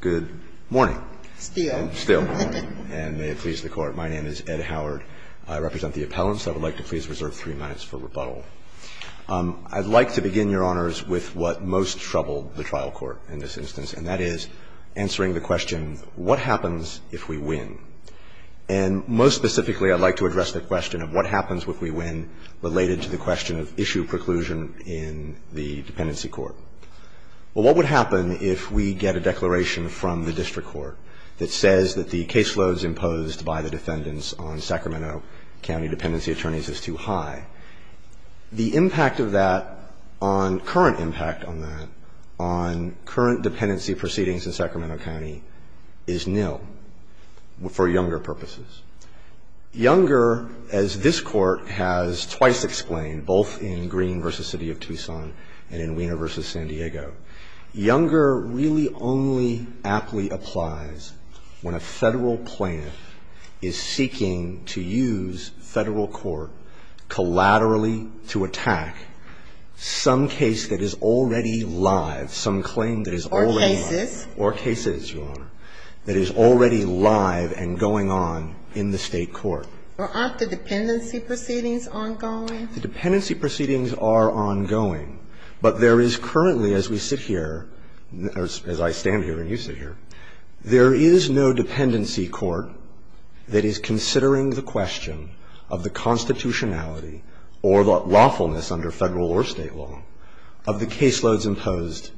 Good morning. Still. Still. And may it please the Court, my name is Ed Howard. I represent the appellants. I would like to please reserve three minutes for rebuttal. I'd like to begin, Your Honors, with what most troubled the trial court in this instance, and that is answering the question, what happens if we win? And most specifically, I'd like to address the question of what happens if we win related to the question of issue preclusion in the dependency court. Well, what would happen if we get a declaration from the district court that says that the caseloads imposed by the defendants on Sacramento County dependency attorneys is too high? The impact of that on current impact on that, on current dependency proceedings in Sacramento County, is nil for younger purposes. Younger, as this Court has twice explained, both in Green v. City of Tucson and in Wiener v. San Diego, younger really only aptly applies when a Federal plaintiff is seeking to use Federal court collaterally to attack some case that is already live, some claim that is already live. Or cases. Or cases, Your Honor, that is already live and going on in the State court. Well, aren't the dependency proceedings ongoing? The dependency proceedings are ongoing. But there is currently, as we sit here, as I stand here and you sit here, there is no dependency court that is considering the question of the constitutionality or the lawfulness under Federal or State law of the caseloads imposed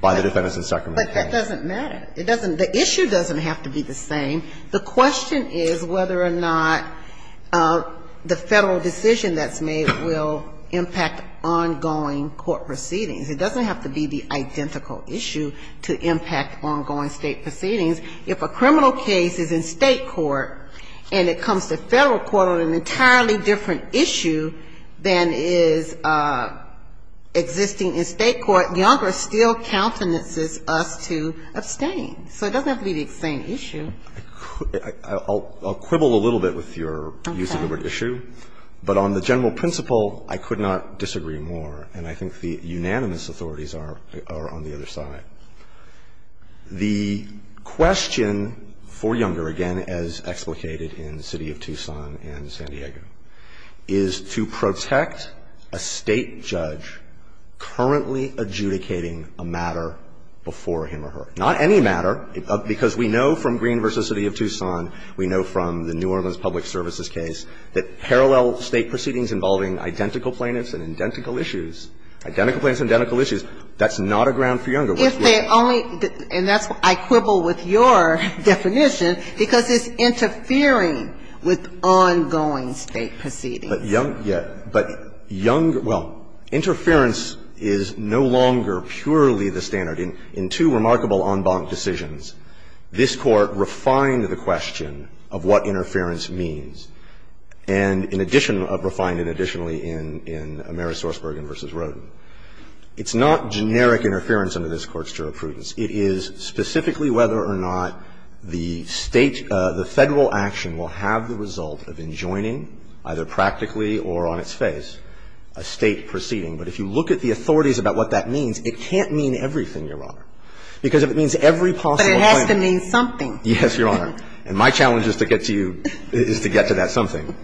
by the defendants in Sacramento County. But that doesn't matter. It doesn't the issue doesn't have to be the same. The question is whether or not the Federal decision that's made will impact ongoing court proceedings. It doesn't have to be the identical issue to impact ongoing State proceedings. If a criminal case is in State court and it comes to Federal court on an entirely different issue than is existing in State court, Younger still countenances us to abstain. So it doesn't have to be the same issue. I'll quibble a little bit with your use of the word issue. Okay. But on the general principle, I could not disagree more. And I think the unanimous authorities are on the other side. The question for Younger, again, as explicated in the City of Tucson and San Diego, is to protect a State judge currently adjudicating a matter before him or her. Not any matter. Because we know from Green v. City of Tucson, we know from the New Orleans Public Services case, that parallel State proceedings involving identical plaintiffs and identical issues, identical plaintiffs and identical issues, that's not a ground for Younger. If they only – and that's why I quibble with your definition, because it's interfering with ongoing State proceedings. But Younger – yeah. But Younger – well, interference is no longer purely the standard. In two remarkable en banc decisions, this Court refined the question of what interference means, and in addition – refined it additionally in Ameris Sorsbergen v. Roden. It's not generic interference under this Court's jurisprudence. It is specifically whether or not the State – the Federal action will have the result of enjoining, either practically or on its face, a State proceeding. But if you look at the authorities about what that means, it can't mean everything, Your Honor. Because if it means every possible plaintiff – But it has to mean something. Yes, Your Honor. And my challenge is to get to you – is to get to that something.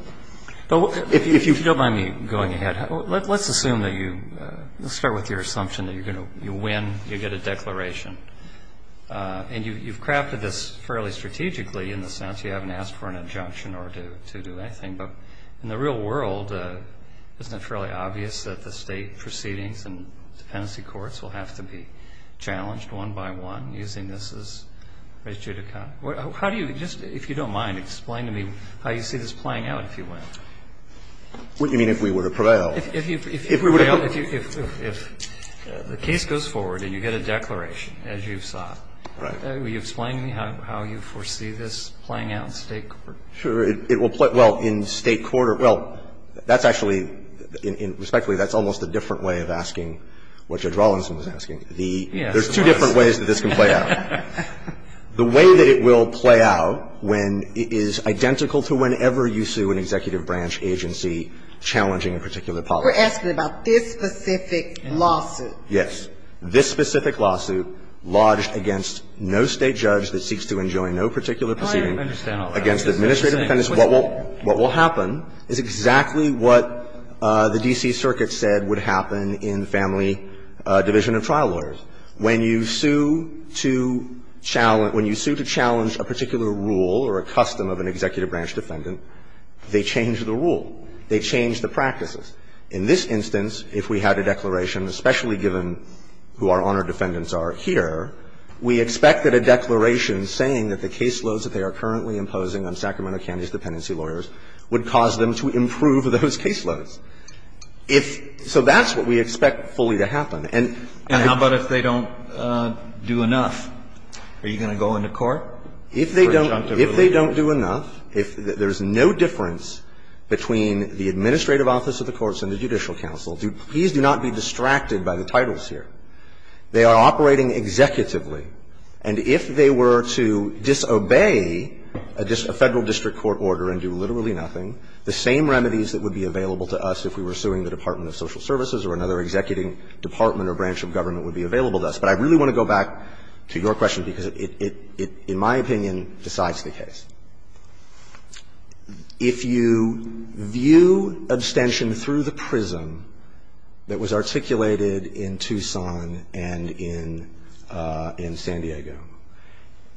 If you don't mind me going ahead, let's assume that you – let's start with your assumption that you're going to – you win, you get a declaration. And you've crafted this fairly strategically in the sense you haven't asked for an adjunction or to do anything. But in the real world, isn't it fairly obvious that the State proceedings and dependency courts will have to be challenged one by one, using this as res judica? How do you – just, if you don't mind, explain to me how you see this playing out if you win. What do you mean, if we were to prevail? If we were to prevail, if you – if the case goes forward and you get a declaration, as you've sought. Right. Will you explain to me how you foresee this playing out in State court? Sure. It will play – well, in State court – well, that's actually – respectfully, that's almost a different way of asking what Judge Rawlinson was asking. Yes. There's two different ways that this can play out. The way that it will play out when it is identical to whenever you sue an executive branch agency challenging a particular policy. We're asking about this specific lawsuit. Yes. This specific lawsuit lodged against no State judge that seeks to enjoin no particular proceeding against administrative defendants. What will happen is exactly what the D.C. Circuit said would happen in the family division of trial lawyers. When you sue to challenge – when you sue to challenge a particular rule or a custom of an executive branch defendant, they change the rule. They change the practices. In this instance, if we had a declaration, especially given who our honor defendants are here, we expect that a declaration saying that the caseloads that they are currently imposing on Sacramento County's dependency lawyers would cause them to improve those caseloads. If – so that's what we expect fully to happen. And how about if they don't do enough? Are you going to go into court? If they don't – if they don't do enough, if there's no difference between the administrative office of the courts and the judicial counsel, please do not be distracted by the titles here. They are operating executively. And if they were to disobey a federal district court order and do literally nothing, the same remedies that would be available to us if we were suing the Department of Social Services or another executing department or branch of government would be available to us. But I really want to go back to your question because it, in my opinion, decides the case. If you view abstention through the prism that was articulated in Tucson and in San Diego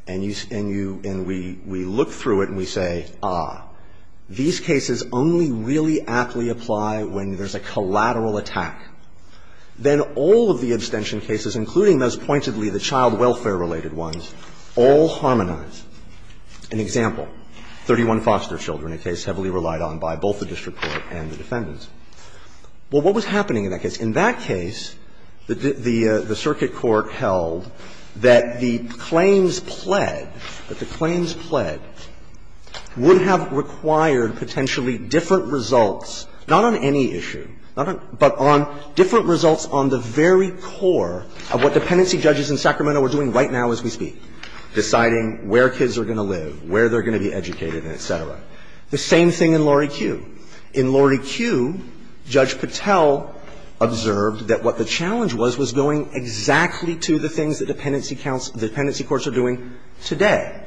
and you – and you – and we look through it and we say, ah, these cases only really aptly apply when there's a collateral attack, then all of the abstention cases, including those pointedly the child welfare-related ones, all harmonize. An example, 31 foster children, a case heavily relied on by both the district court and the defendants. Well, what was happening in that case? In that case, the circuit court held that the claims pled, that the claims pled would have required potentially different results, not on any issue, but on different results on the very core of what dependency judges in Sacramento are doing right now as we speak, deciding where kids are going to live, where they're going to be educated, and et cetera. The same thing in Lori Cue. In Lori Cue, Judge Patel observed that what the challenge was was going exactly to the things that dependency courts are doing today,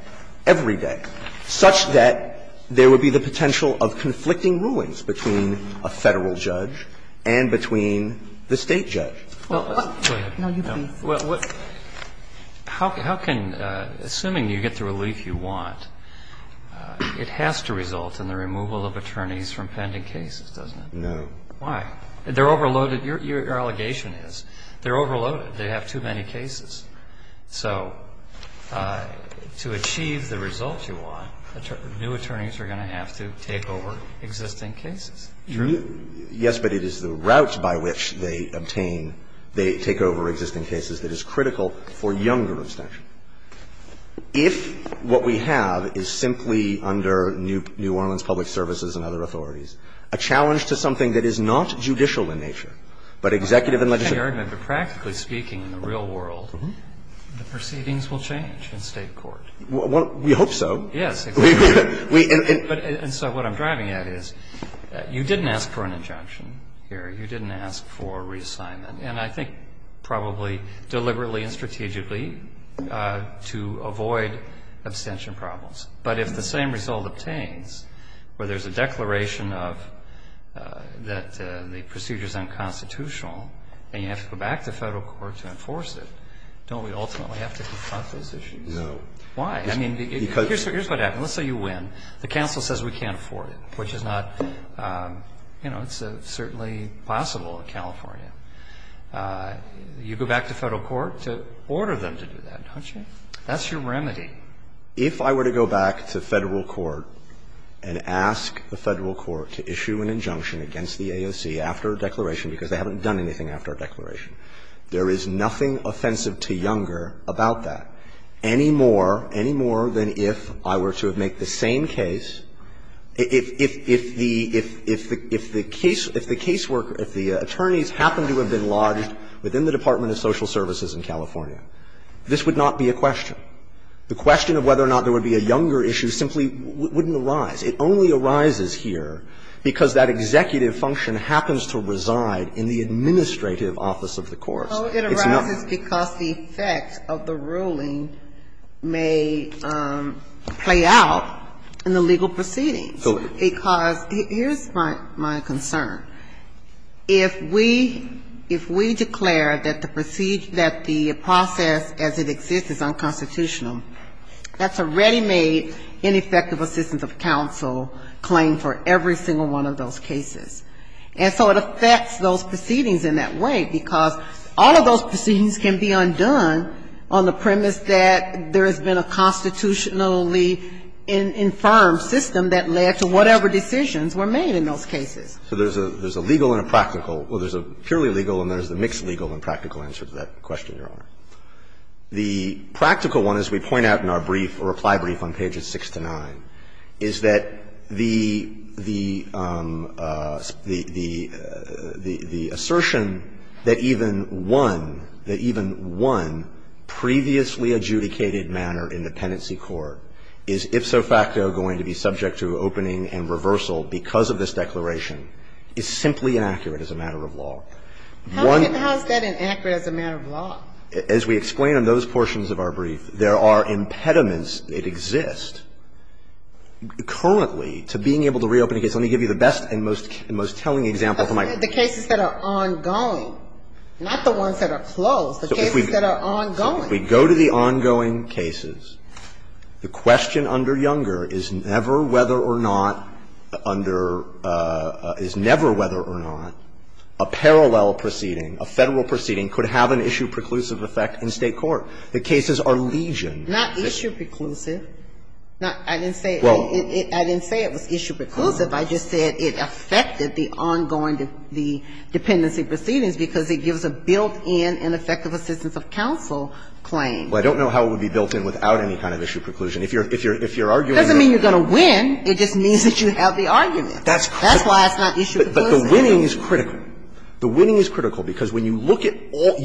every day, such that, you know, the potential of conflicting rulings between a Federal judge and between the State judge. Now, you've been through that. Well, how can, assuming you get the relief you want, it has to result in the removal of attorneys from pending cases, doesn't it? No. Why? They're overloaded. Your allegation is they're overloaded. They have too many cases. So to achieve the results you want, new attorneys are going to have to take over existing cases. True? Yes, but it is the route by which they obtain, they take over existing cases that is critical for younger abstention. If what we have is simply under New Orleans Public Services and other authorities, a challenge to something that is not judicial in nature, but executive and legislative. But practically speaking in the real world, the proceedings will change in State court. We hope so. Yes. And so what I'm driving at is, you didn't ask for an injunction here. You didn't ask for reassignment. And I think probably deliberately and strategically to avoid abstention problems. But if the same result obtains, where there's a declaration of, that the procedure is unconstitutional and you have to go back to Federal court to enforce it, don't we ultimately have to confront those issues? No. Why? I mean, here's what happens. Let's say you win. The counsel says we can't afford it, which is not, you know, it's certainly possible in California. You go back to Federal court to order them to do that, don't you? That's your remedy. If I were to go back to Federal court and ask the Federal court to issue an injunction against the AOC after a declaration, because they haven't done anything after a declaration, there is nothing offensive to Younger about that any more, any more than if I were to have made the same case, if the caseworker, if the attorneys happened to have been lodged within the Department of Social Services in California. This would not be a question. The question of whether or not there would be a Younger issue simply wouldn't arise. It only arises here because that executive function happens to reside in the administrative office of the courts. It's not. It arises because the effect of the ruling may play out in the legal proceedings. Okay. Because here's my concern. If we declare that the process as it exists is unconstitutional, that's a ready-made ineffective assistance of counsel claim for every single one of those cases. And so it affects those proceedings in that way, because all of those proceedings can be undone on the premise that there has been a constitutionally-informed system that led to whatever decisions were made in those cases. So there's a legal and a practical. Well, there's a purely legal and there's a mixed legal and practical answer to that question, Your Honor. The practical one, as we point out in our brief, reply brief on pages 6 to 9, is that the assertion that even one, that even one previously adjudicated manner in the penancy court is ifso facto going to be subject to opening and reversal because of this declaration is simply inaccurate as a matter of law. As we explain in those portions of our brief, there are impediments that exist currently to being able to reopen a case. Let me give you the best and most telling example. The cases that are ongoing, not the ones that are closed. The cases that are ongoing. If we go to the ongoing cases, the question under Younger is never whether or not under – is never whether or not a parallel proceeding, a Federal proceeding could have an issue preclusive effect in State court. The cases are legion. Not issue preclusive. I didn't say it was issue preclusive. I just said it affected the ongoing dependency proceedings because it gives a built-in and effective assistance of counsel claim. Well, I don't know how it would be built in without any kind of issue preclusion. If you're arguing that – It doesn't mean you're going to win. It just means that you have the argument. That's why it's not issue preclusive. But the winning is critical. The winning is critical because when you look at all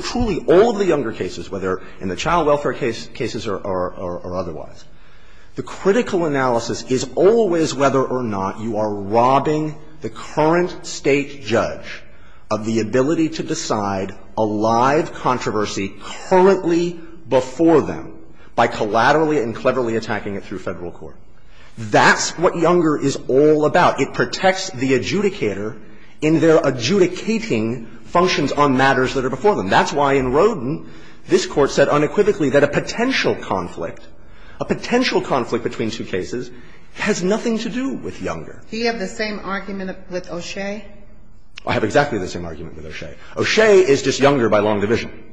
– truly all of the Younger cases, whether in the child welfare cases or otherwise, the critical analysis is always whether or not you are robbing the current State judge of the ability to decide a live controversy currently before them by collaterally and cleverly attacking it through Federal court. That's what Younger is all about. It protects the adjudicator in their adjudicating functions on matters that are before them. That's why in Roden, this Court said unequivocally that a potential conflict, a potential conflict between two cases has nothing to do with Younger. Do you have the same argument with O'Shea? I have exactly the same argument with O'Shea. O'Shea is just Younger by long division.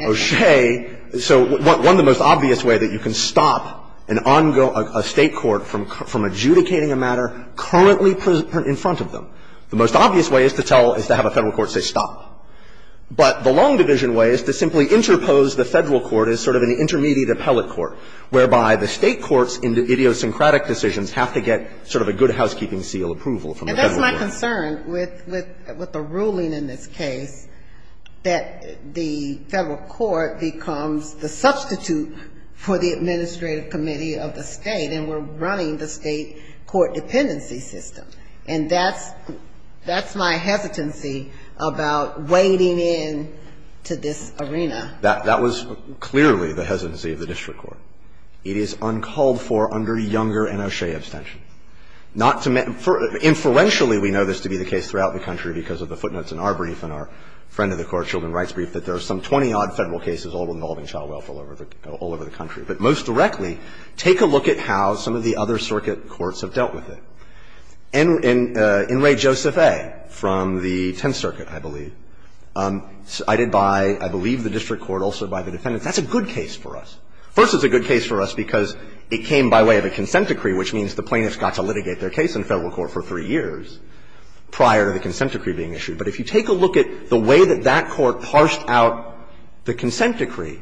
O'Shea – so one of the most obvious way that you can stop an ongoing – a State court from adjudicating a matter currently in front of them. The most obvious way is to tell – is to have a Federal court say stop. But the long division way is to simply interpose the Federal court as sort of an intermediate appellate court, whereby the State courts in the idiosyncratic decisions have to get sort of a good housekeeping seal approval from the Federal court. And that's my concern with the ruling in this case, that the Federal court becomes the substitute for the administrative committee of the State and we're running the State court dependency system. And that's – that's my hesitancy about wading in to this arena. That was clearly the hesitancy of the district court. It is uncalled for under Younger and O'Shea abstention. Not to – inferentially, we know this to be the case throughout the country because of the footnotes in our brief and our friend of the Court, Children's Rights Brief, that there are some 20-odd Federal cases all involving child welfare all over the country. But most directly, take a look at how some of the other circuit courts have dealt with it. In Ray Joseph A. from the Tenth Circuit, I believe, cited by, I believe, the district court, also by the defendants. That's a good case for us. First, it's a good case for us because it came by way of a consent decree, which means the plaintiffs got to litigate their case in Federal court for three years prior to the consent decree being issued. But if you take a look at the way that that court parsed out the consent decree,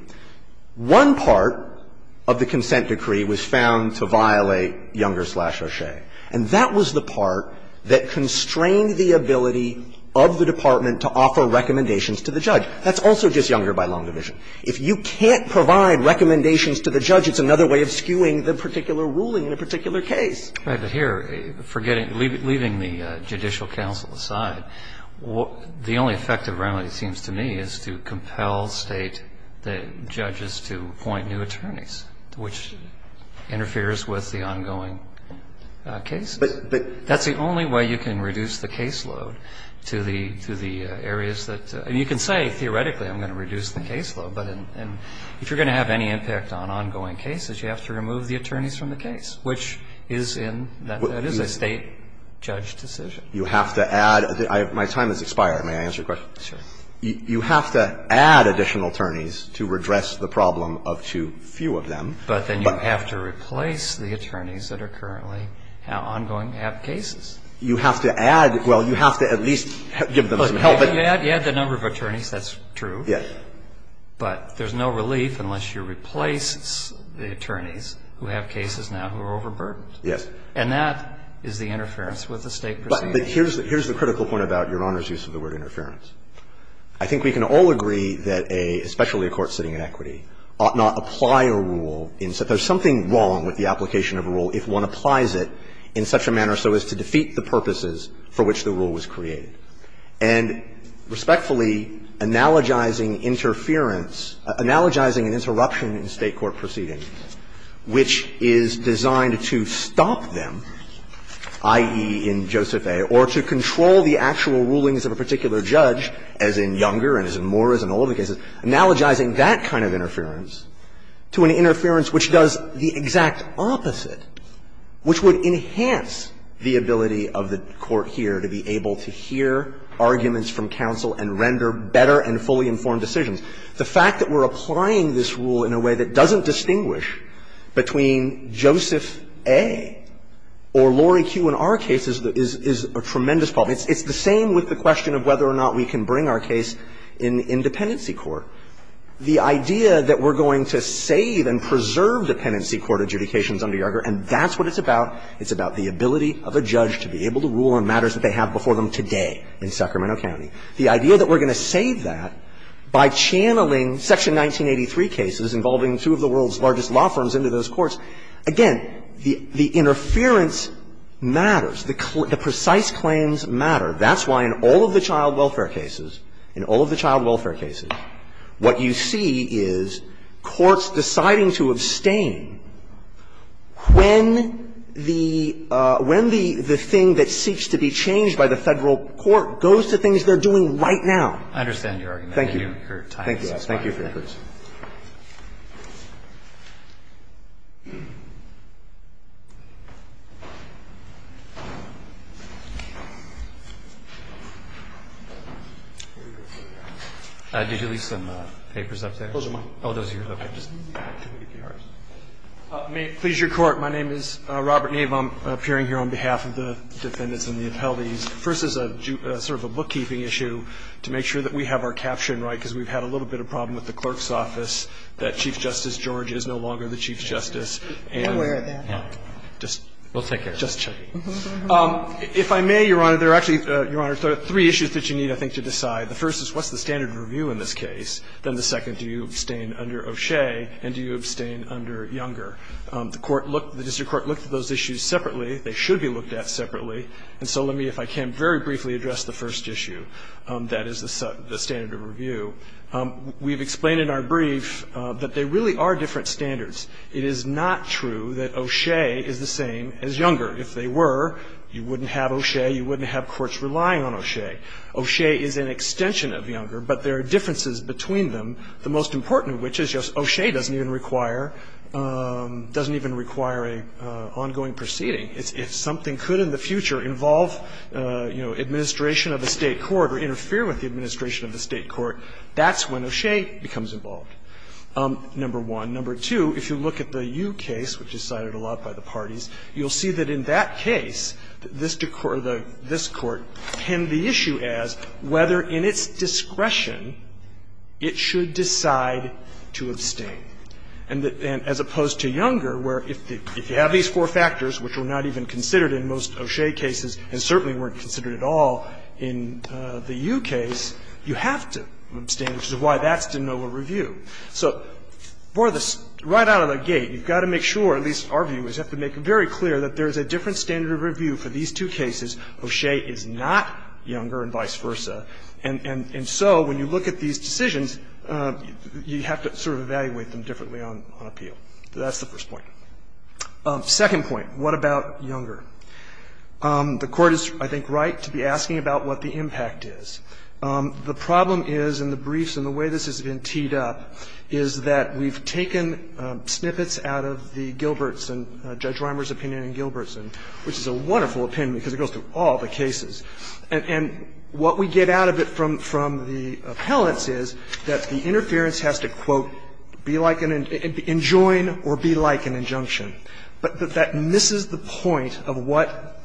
one part of the consent decree was found to violate Younger slash O'Shea. And that was the part that constrained the ability of the department to offer recommendations to the judge. That's also just Younger by long division. If you can't provide recommendations to the judge, it's another way of skewing the particular ruling in a particular case. Right. But here, leaving the judicial counsel aside, the only effective remedy, it seems to me, is to compel State judges to appoint new attorneys, which interferes with the ongoing case. But that's the only way you can reduce the caseload to the areas that you can say, theoretically, I'm going to reduce the caseload. But if you're going to have any impact on ongoing cases, you have to remove the attorneys from the case, which is in the State judge decision. You have to add. My time has expired. May I answer your question? Sure. You have to add additional attorneys to redress the problem of too few of them. But then you have to replace the attorneys that are currently ongoing to have cases. You have to add. Well, you have to at least give them some help. You add the number of attorneys. That's true. Yes. But there's no relief unless you replace the attorneys who have cases now who are overburdened. Yes. And that is the interference with the State proceeding. But here's the critical point about Your Honor's use of the word interference. I think we can all agree that a, especially a court sitting in equity, ought not apply a rule in the sense that there's something wrong with the application of a rule if one applies it in such a manner so as to defeat the purposes for which the rule was created. And respectfully, analogizing interference, analogizing an interruption in State court proceedings which is designed to stop them, i.e., in Joseph A., or to control the actual rulings of a particular judge, as in Younger and as in Morris and all of the cases, analogizing that kind of interference to an interference which does the exact opposite, which would enhance the ability of the court here to be able to hear arguments from counsel and render better and fully informed decisions. The fact that we're applying this rule in a way that doesn't distinguish between Joseph A. or Laurie Q. in our case is a tremendous problem. It's the same with the question of whether or not we can bring our case in dependency court. The idea that we're going to save and preserve dependency court adjudications under Younger, and that's what it's about, it's about the ability of a judge to be able to rule on matters that they have before them today in Sacramento County. The idea that we're going to save that by channeling Section 1983 cases involving two of the world's largest law firms into those courts, again, the interference matters. The precise claims matter. That's why in all of the child welfare cases, in all of the child welfare cases, what you see is courts deciding to abstain when the thing that seeks to be changed by the Federal court goes to things they're doing right now. Roberts. I understand your argument. Thank you. Your time is up. Thank you. Thank you for your questions. Did you leave some papers up there? Those are mine. Oh, those are yours. Okay. Please, Your Court, my name is Robert Nave. I'm appearing here on behalf of the defendants and the appellees. First, as a sort of a bookkeeping issue, to make sure that we have our caption right, because we've had a little bit of a problem with the clerk's office, that Chief Justice George is no longer the Chief Justice. I'm aware of that. We'll take care of it. Just checking. If I may, Your Honor, there are actually, Your Honor, three issues that you need, I think, to decide. The first is, what's the standard of review in this case? Then the second, do you abstain under O'Shea, and do you abstain under Younger? The court looked, the district court looked at those issues separately. They should be looked at separately. And so let me, if I can, very briefly address the first issue. That is the standard of review. We've explained in our brief that there really are different standards. It is not true that O'Shea is the same as Younger. If they were, you wouldn't have O'Shea, you wouldn't have courts relying on O'Shea. O'Shea is an extension of Younger, but there are differences between them. The most important of which is just O'Shea doesn't even require, doesn't even require an ongoing proceeding. If something could in the future involve, you know, administration of a State court or interfere with the administration of a State court, that's when O'Shea becomes involved, number one. Number two, if you look at the Yu case, which is cited a lot by the parties, you'll see that in that case, this court penned the issue as whether in its discretion it should decide to abstain. And as opposed to Younger, where if you have these four factors, which were not even considered in most O'Shea cases, and certainly weren't considered at all in the Yu case, you have to abstain, which is why that's de novo review. So right out of the gate, you've got to make sure, at least our view is, you have to make it very clear that there is a different standard of review for these two cases. O'Shea is not Younger and vice versa. And so when you look at these decisions, you have to sort of evaluate them differently on appeal. That's the first point. Second point, what about Younger? The Court is, I think, right to be asking about what the impact is. The problem is, in the briefs and the way this has been teed up, is that we've taken snippets out of the Gilbertson, Judge Reimer's opinion in Gilbertson, which is a wonderful opinion because it goes through all the cases. And what we get out of it from the appellants is that the interference has to, quote, be like an – enjoin or be like an injunction. But that misses the point of what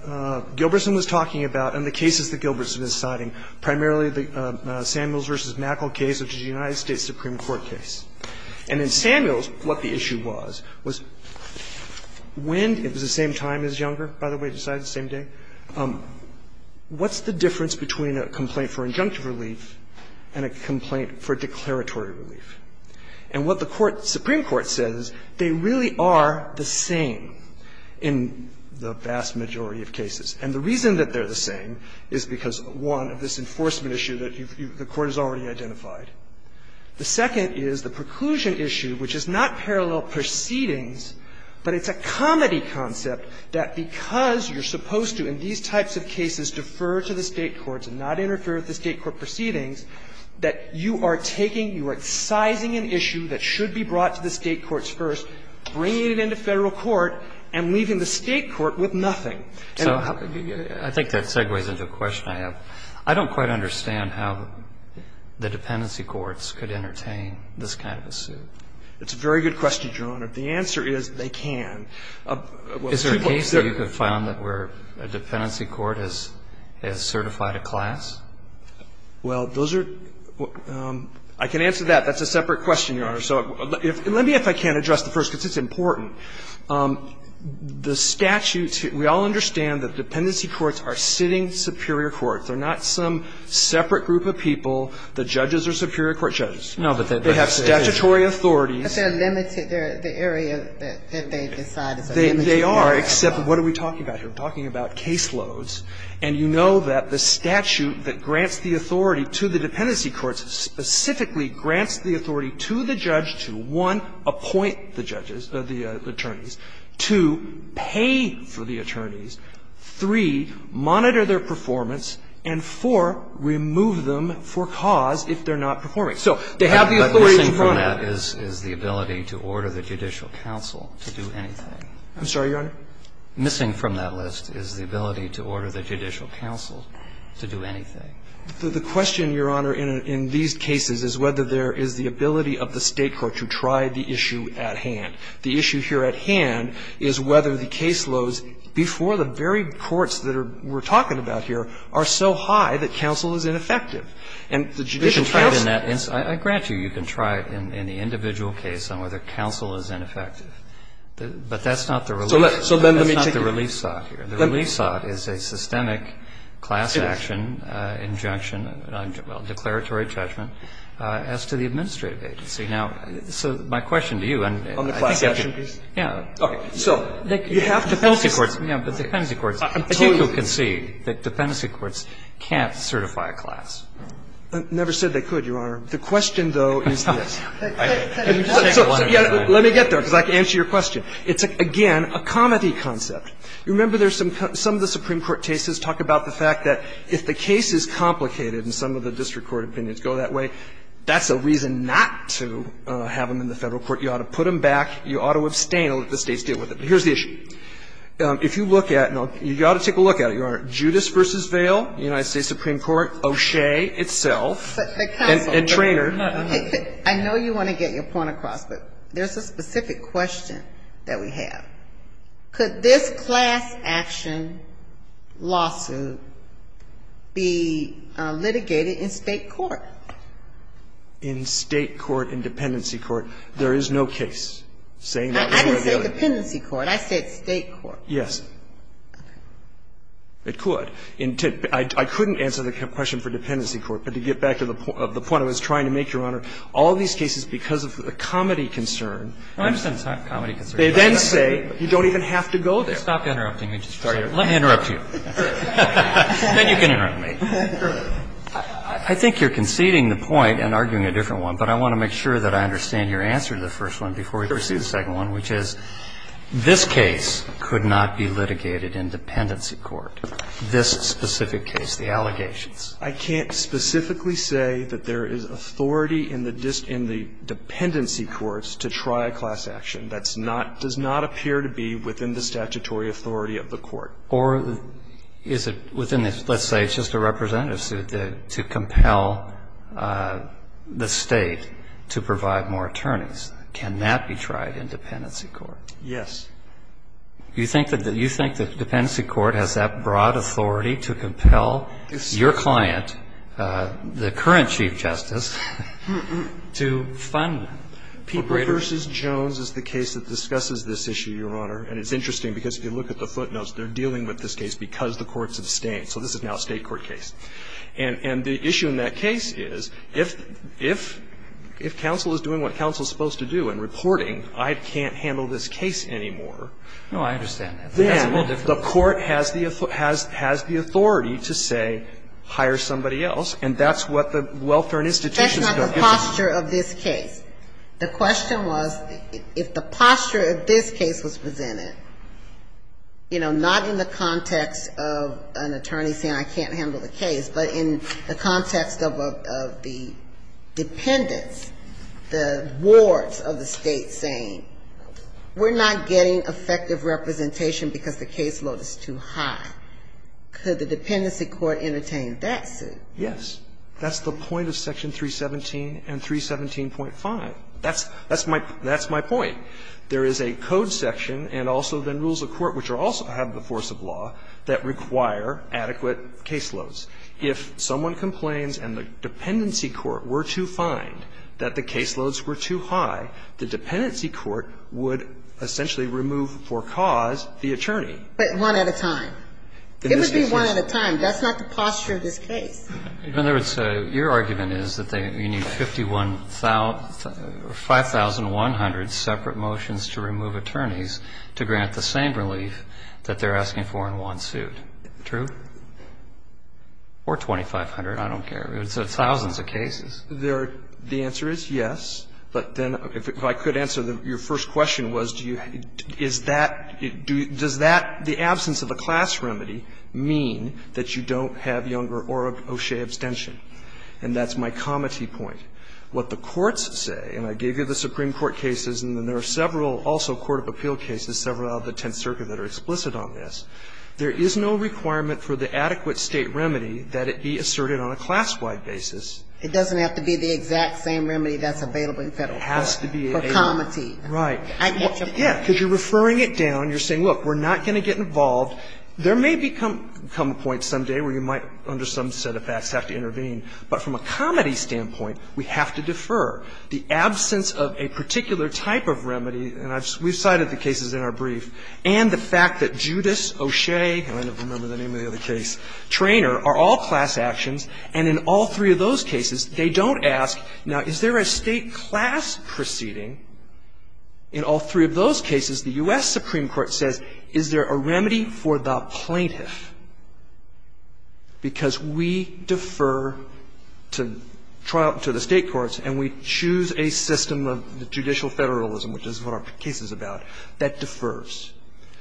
Gilbertson was talking about and the cases that Gilbertson is citing, primarily the Samuels v. Mackle case, which is a United States Supreme Court case. And in Samuels, what the issue was, was when – it was the same time as Younger, by the way, decided the same day. What's the difference between a complaint for injunctive relief and a complaint for declaratory relief? And what the court, Supreme Court, says is they really are the same in the vast majority of cases. And the reason that they're the same is because, one, of this enforcement issue that you've – the Court has already identified. The second is the preclusion issue, which is not parallel proceedings, but it's a comedy concept that because you're supposed to, in these types of cases, defer to the State courts and not interfere with the State court proceedings, that you are taking – you are excising an issue that should be brought to the State courts first, bringing it into Federal court, and leaving the State court with nothing. And I think that segues into a question I have. I don't quite understand how the dependency courts could entertain this kind of a suit. It's a very good question, Your Honor. The answer is they can. Well, three points there. Is there a case that you can find that where a dependency court has certified a class? Well, those are – I can answer that. That's a separate question, Your Honor. So let me, if I can, address the first, because it's important. The statutes – we all understand that dependency courts are sitting superior courts. They're not some separate group of people. The judges are superior court judges. No, but they have statutory authorities. But they're limited. They're the area that they decide is a limited area. They are, except what are we talking about here? We're talking about caseloads. And you know that the statute that grants the authority to the dependency courts specifically grants the authority to the judge to, one, appoint the judges, the attorneys, two, pay for the attorneys, three, monitor their performance, and, four, remove them for cause if they're not performing. So they have the authority in front of them. So the question, Your Honor, is whether there is the ability to order the judicial counsel to do anything. I'm sorry, Your Honor? Missing from that list is the ability to order the judicial counsel to do anything. The question, Your Honor, in these cases is whether there is the ability of the State court to try the issue at hand. The issue here at hand is whether the caseloads before the very courts that we're talking about here are so high that counsel is ineffective. And the judicial counsel can't do that. I grant you, you can try it in the individual case on whether counsel is ineffective. But that's not the relief sought here. The relief sought is a systemic class action injunction, declaratory judgment, as to the administrative agency. Now, so my question to you, and I think you have to do this. On the class action case? Yeah. Okay. So you have to do this. Dependency courts, yeah, but dependency courts. I think you can see. Dependency courts can't certify a class. Never said they could, Your Honor. The question, though, is this. Let me get there, because I can answer your question. It's, again, a comity concept. You remember there's some of the Supreme Court cases talk about the fact that if the case is complicated, and some of the district court opinions go that way, that's a reason not to have them in the Federal court. You ought to put them back. You ought to abstain and let the States deal with it. But here's the issue. If you look at, and you ought to take a look at it, Your Honor, Judas v. Vail, United States Supreme Court, O'Shea itself, and Traynor. I know you want to get your point across, but there's a specific question that we have. Could this class action lawsuit be litigated in State court? In State court, in dependency court, there is no case saying that. I didn't say dependency court. I said State court. Yes. It could. I couldn't answer the question for dependency court, but to get back to the point I was trying to make, Your Honor, all these cases, because of the comity concern, they then say you don't even have to go there. Let me interrupt you. Then you can interrupt me. I think you're conceding the point and arguing a different one, but I want to make sure that I understand your answer to the first one before we pursue the second one, which is this case could not be litigated in dependency court, this specific case, the allegations. I can't specifically say that there is authority in the dependency courts to try a class action. That's not, does not appear to be within the statutory authority of the court. Or is it within the, let's say it's just a representative suit to compel the State to provide more attorneys. Can that be tried in dependency court? Yes. Do you think that the dependency court has that broad authority to compel your client, the current Chief Justice, to fund people? Peabody v. Jones is the case that discusses this issue, Your Honor, and it's interesting because if you look at the footnotes, they're dealing with this case because the courts abstain. So this is now a State court case. And the issue in that case is if counsel is doing what counsel is supposed to do in reporting, I can't handle this case anymore. No, I understand that. Then the court has the authority to say hire somebody else, and that's what the Welfare and Institutions Code gives us. That's not the posture of this case. The question was if the posture of this case was presented, you know, not in the case, but in the context of the dependents, the wards of the State saying we're not getting effective representation because the caseload is too high, could the dependency court entertain that suit? Yes. That's the point of Section 317 and 317.5. That's my point. There is a code section and also then rules of court, which also have the force of law, that require adequate caseloads. If someone complains and the dependency court were to find that the caseloads were too high, the dependency court would essentially remove for cause the attorney. But one at a time. It would be one at a time. That's not the posture of this case. In other words, your argument is that you need 5,100 separate motions to remove attorneys to grant the same relief that they're asking for in one suit. True? Or 2,500. I don't care. It's thousands of cases. The answer is yes. But then if I could answer your first question was, do you, is that, does that, the absence of a class remedy mean that you don't have Younger or O'Shea abstention? And that's my comity point. What the courts say, and I gave you the Supreme Court cases and then there are several also court of appeal cases, several out of the Tenth Circuit that are explicit on this, there is no requirement for the adequate state remedy that it be asserted on a class-wide basis. It doesn't have to be the exact same remedy that's available in Federal court. It has to be a remedy. For comity. Right. I get your point. Yeah, because you're referring it down. You're saying, look, we're not going to get involved. There may become a point someday where you might under some set of facts have to intervene. But from a comity standpoint, we have to defer. The absence of a particular type of remedy, and we've cited the cases in our brief, and the fact that Judas, O'Shea, and I don't remember the name of the other case, Traynor are all class actions. And in all three of those cases, they don't ask, now, is there a state class proceeding? In all three of those cases, the U.S. Supreme Court says, is there a remedy for the plaintiff? Because we defer to the state courts and we choose a system of judicial federalism, which is what our case is about, that defers.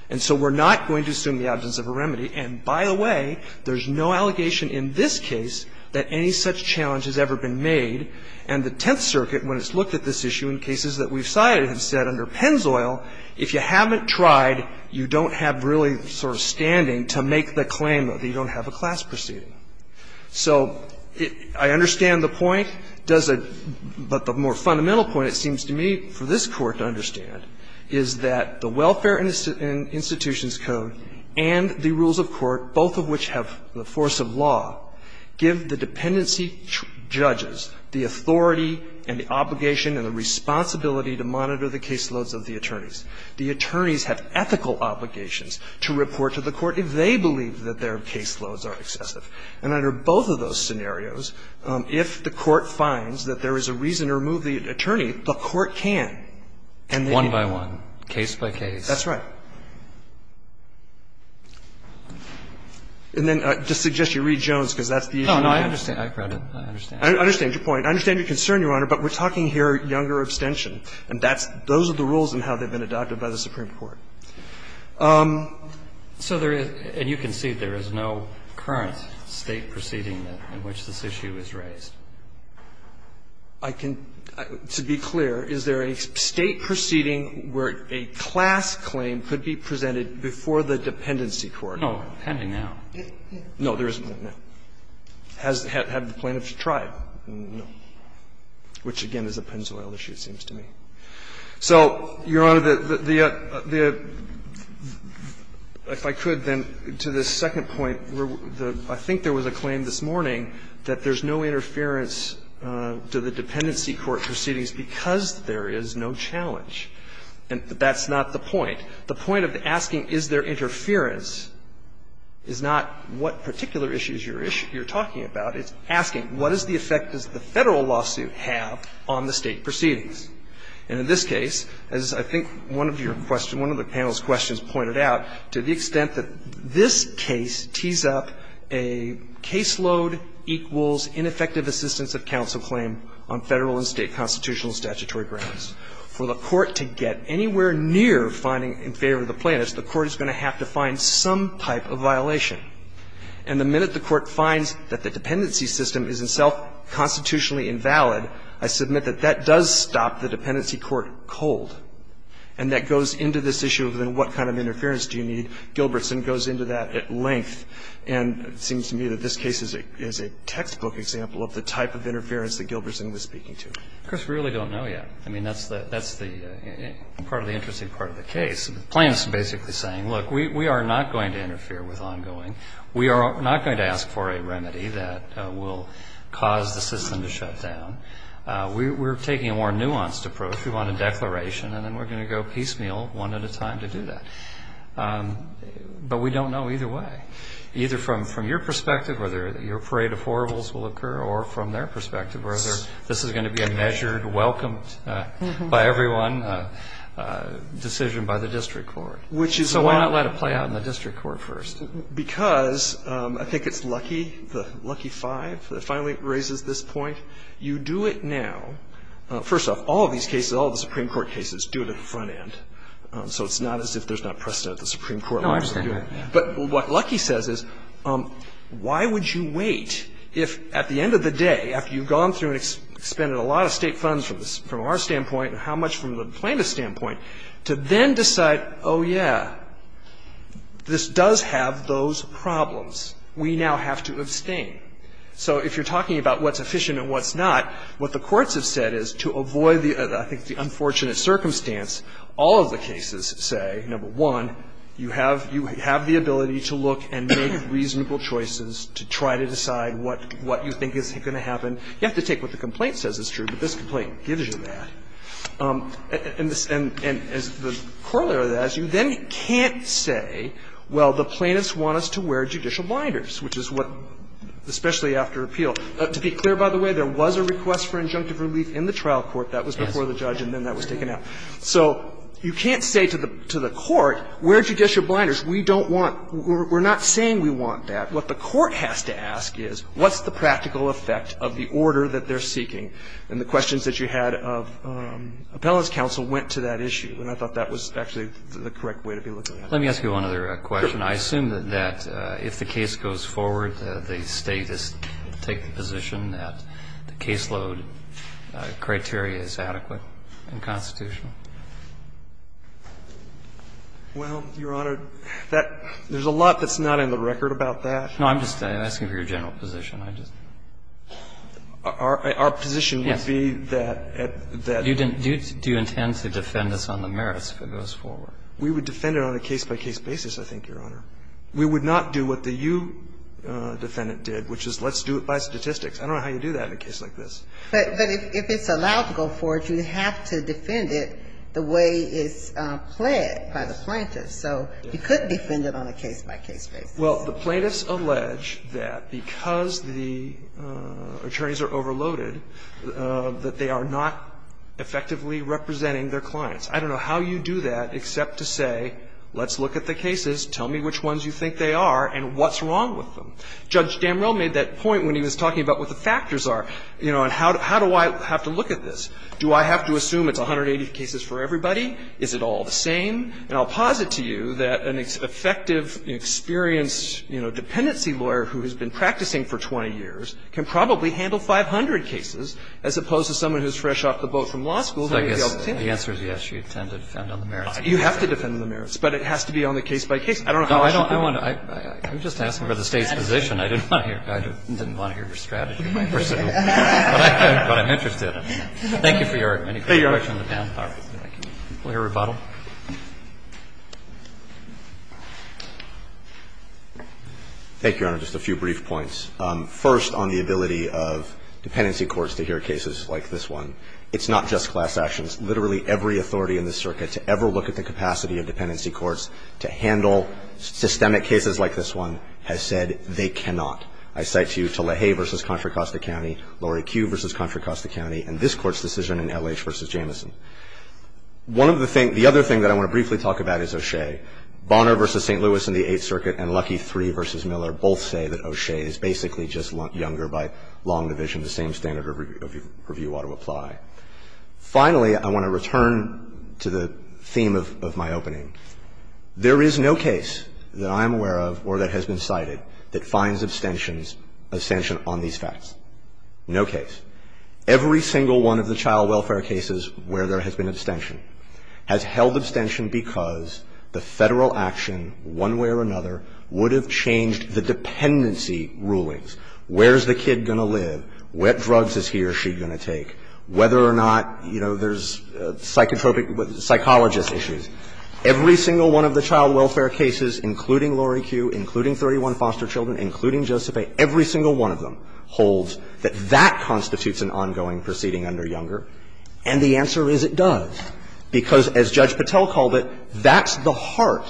And so we're not going to assume the absence of a remedy. And by the way, there's no allegation in this case that any such challenge has ever been made, and the Tenth Circuit, when it's looked at this issue in cases that we've cited, have said under Pennzoil, if you haven't tried, you don't have really sort of standing to make the claim that you don't have a class proceeding. So I understand the point. But the more fundamental point, it seems to me, for this Court to understand, is that the Welfare Institutions Code and the rules of court, both of which have the force of law, give the dependency judges the authority and the obligation and the responsibility to monitor the caseloads of the attorneys. The attorneys have ethical obligations to report to the court if they believe that their caseloads are excessive. And under both of those scenarios, if the court finds that there is a reason to remove the attorney, the court can. And they need to know. One by one, case by case. That's right. And then I'd just suggest you read Jones, because that's the issue. No, no, I understand. I read it. I understand. I understand your point. I understand your concern, Your Honor, but we're talking here younger abstention. And that's – those are the rules and how they've been adopted by the Supreme Court. So there is – and you can see there is no current State proceeding in which this issue is raised. I can – to be clear, is there a State proceeding where a class claim could be presented before the dependency court? No, pending now. No, there isn't, no. Has the plaintiff tried? No. Which, again, is a Pennzoil issue, it seems to me. So, Your Honor, the – if I could, then, to the second point, where the – I think there was a claim this morning that there's no interference to the dependency court proceedings because there is no challenge. And that's not the point. The point of asking, is there interference, is not what particular issues you're talking about. It's asking, what is the effect does the Federal lawsuit have on the State proceedings? And in this case, as I think one of your – one of the panel's questions pointed out, to the extent that this case tees up a caseload equals ineffective assistance of counsel claim on Federal and State constitutional statutory grounds, for the court to get anywhere near finding in favor of the plaintiffs, the court is going to have to find some type of violation. And the minute the court finds that the dependency system is in itself constitutionally invalid, I submit that that does stop the dependency court cold. And that goes into this issue of, then, what kind of interference do you need? Gilbertson goes into that at length. And it seems to me that this case is a textbook example of the type of interference that Gilbertson was speaking to. Chris, we really don't know yet. I mean, that's the – that's the part of the interesting part of the case. The plaintiffs are basically saying, look, we are not going to interfere with ongoing. We are not going to ask for a remedy that will cause the system to shut down. We're taking a more nuanced approach. We want a declaration. And then we're going to go piecemeal, one at a time, to do that. But we don't know either way. Either from your perspective, whether your parade of horribles will occur, or from their perspective, whether this is going to be a measured, welcomed by everyone decision by the district court. So why not let it play out in the district court first? Because, I think it's Lucky, the Lucky Five, that finally raises this point. You do it now. First off, all of these cases, all of the Supreme Court cases, do it at the front end. So it's not as if there's not precedent at the Supreme Court level. No, I understand that. But what Lucky says is, why would you wait if, at the end of the day, after you've gone through and expended a lot of State funds from our standpoint and how much from the plaintiff's standpoint, to then decide, oh, yeah, this does have those problems. We now have to abstain. So if you're talking about what's efficient and what's not, what the courts have said is, to avoid, I think, the unfortunate circumstance, all of the cases say, number one, you have the ability to look and make reasonable choices to try to decide what you think is going to happen. You have to take what the complaint says is true, but this complaint gives you that. And as the corollary of that is, you then can't say, well, the plaintiffs want us to wear judicial blinders, which is what, especially after appeal. To be clear, by the way, there was a request for injunctive relief in the trial court. That was before the judge and then that was taken out. So you can't say to the court, wear judicial blinders. We don't want to. We're not saying we want that. But what the court has to ask is, what's the practical effect of the order that they're seeking? And the questions that you had of appellant's counsel went to that issue, and I thought that was actually the correct way to be looking at it. Let me ask you one other question. I assume that if the case goes forward, the State is to take the position that the caseload criteria is adequate and constitutional. Well, Your Honor, there's a lot that's not in the record about that. No, I'm just asking for your general position. I just don't know. Our position would be that, that. Do you intend to defend us on the merits if it goes forward? We would defend it on a case-by-case basis, I think, Your Honor. We would not do what the you defendant did, which is let's do it by statistics. I don't know how you do that in a case like this. But if it's allowed to go forward, you have to defend it the way it's pled by the plaintiffs. So you could defend it on a case-by-case basis. Well, the plaintiffs allege that because the attorneys are overloaded, that they are not effectively representing their clients. I don't know how you do that except to say, let's look at the cases, tell me which ones you think they are, and what's wrong with them. Judge Damrell made that point when he was talking about what the factors are. You know, and how do I have to look at this? Do I have to assume it's 180 cases for everybody? Is it all the same? And I'll posit to you that an effective, experienced, you know, dependency lawyer who has been practicing for 20 years can probably handle 500 cases, as opposed to someone who is fresh off the boat from law school. So I guess the answer is yes, you intend to defend on the merits. You have to defend on the merits, but it has to be on the case-by-case. I don't know how I should do it. I'm just asking for the State's position. I didn't want to hear your strategy. But I'm interested. Thank you for your question. Thank you, Your Honor. We'll hear rebuttal. Thank you, Your Honor. Just a few brief points. First, on the ability of dependency courts to hear cases like this one. It's not just class actions. Literally every authority in this circuit to ever look at the capacity of dependency courts to handle systemic cases like this one has said they cannot. I cite you to LaHaye v. Contra Costa County, Laurie Q v. Contra Costa County, and this Court's decision in L.H. v. Jameson. One of the things – the other thing that I want to briefly talk about is O'Shea. Bonner v. St. Louis in the Eighth Circuit and Lucky III v. Miller both say that O'Shea is basically just younger by long division. The same standard of review ought to apply. Finally, I want to return to the theme of my opening. There is no case that I am aware of or that has been cited that finds abstention on these facts. No case. Every single one of the child welfare cases where there has been abstention has held abstention because the Federal action one way or another would have changed the dependency rulings. Where's the kid going to live? What drugs is he or she going to take? Whether or not, you know, there's psychotropic – psychologist issues. Every single one of the child welfare cases, including Laurie Q, including 31 foster children, including Joseph A., every single one of them holds that that constitutes an ongoing proceeding under Younger. And the answer is it does, because as Judge Patel called it, that's the heart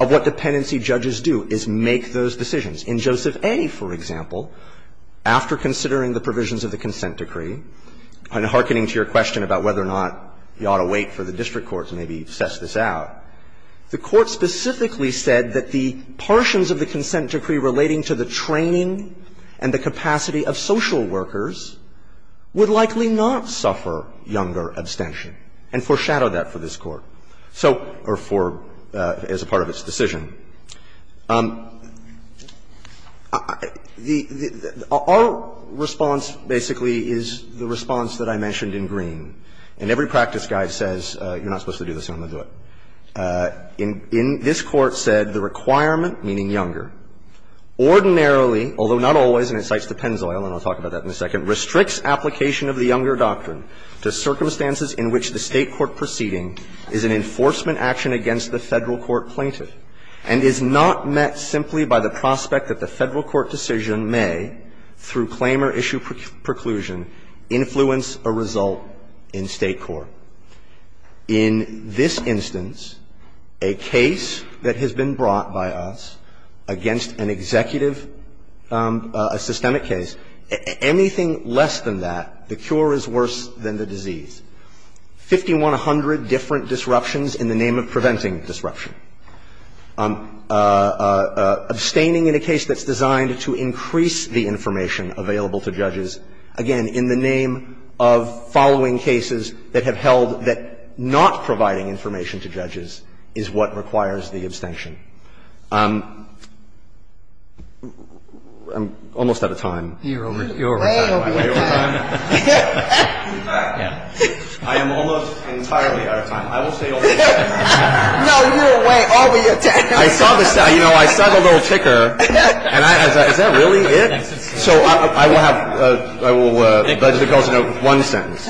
of what dependency judges do, is make those decisions. In Joseph A., for example, after considering the provisions of the consent decree, and hearkening to your question about whether or not you ought to wait for the district courts to maybe suss this out, the Court specifically said that the portions of the consent decree relating to the training and the capacity of social workers would likely not suffer Younger abstention, and foreshadowed that for this Court. So – or for – as a part of its decision. Our response, basically, is the response that I mentioned in Green. And every practice guide says, you're not supposed to do this, and I'm going to do it. In – this Court said the requirement, meaning Younger, ordinarily, although not always, and it cites DePenzoil, and I'll talk about that in a second, restricts application of the Younger doctrine to circumstances in which the State court proceeding is an enforcement action against the Federal court plaintiff, and is not met simply by the prospect that the Federal court decision may, through claim or issue preclusion, influence a result in State court. In this instance, a case that has been brought by us against an executive – a systemic case, anything less than that, the cure is worse than the disease. 5,100 different disruptions in the name of preventing disruption. Abstaining in a case that's designed to increase the information available to judges, again, in the name of following cases that have held that not providing information to judges is what requires the abstention. I'm almost out of time. You're way over your time. I am almost entirely out of time. I will stay over your time. No, you're way over your time. I saw the – you know, I saw the little ticker, and I was, is that really it? So I will have – I will budget a close note with one sentence,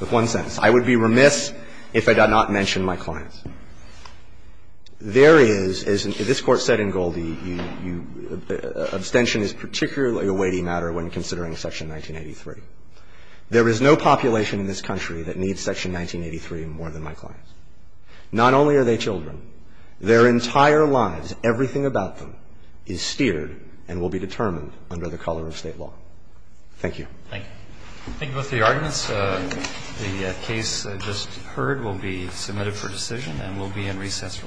with one sentence. I would be remiss if I did not mention my clients. There is, as this Court said in Goldie, you – you – abstention is particularly a weighty matter when considering Section 1983. There is no population in this country that needs Section 1983 more than my clients. Not only are they children, their entire lives, everything about them, is steered and will be determined under the color of State law. Thank you. Thank you. Thank you both for your arguments. The case just heard will be submitted for decision and will be in recess for the morning. All rise.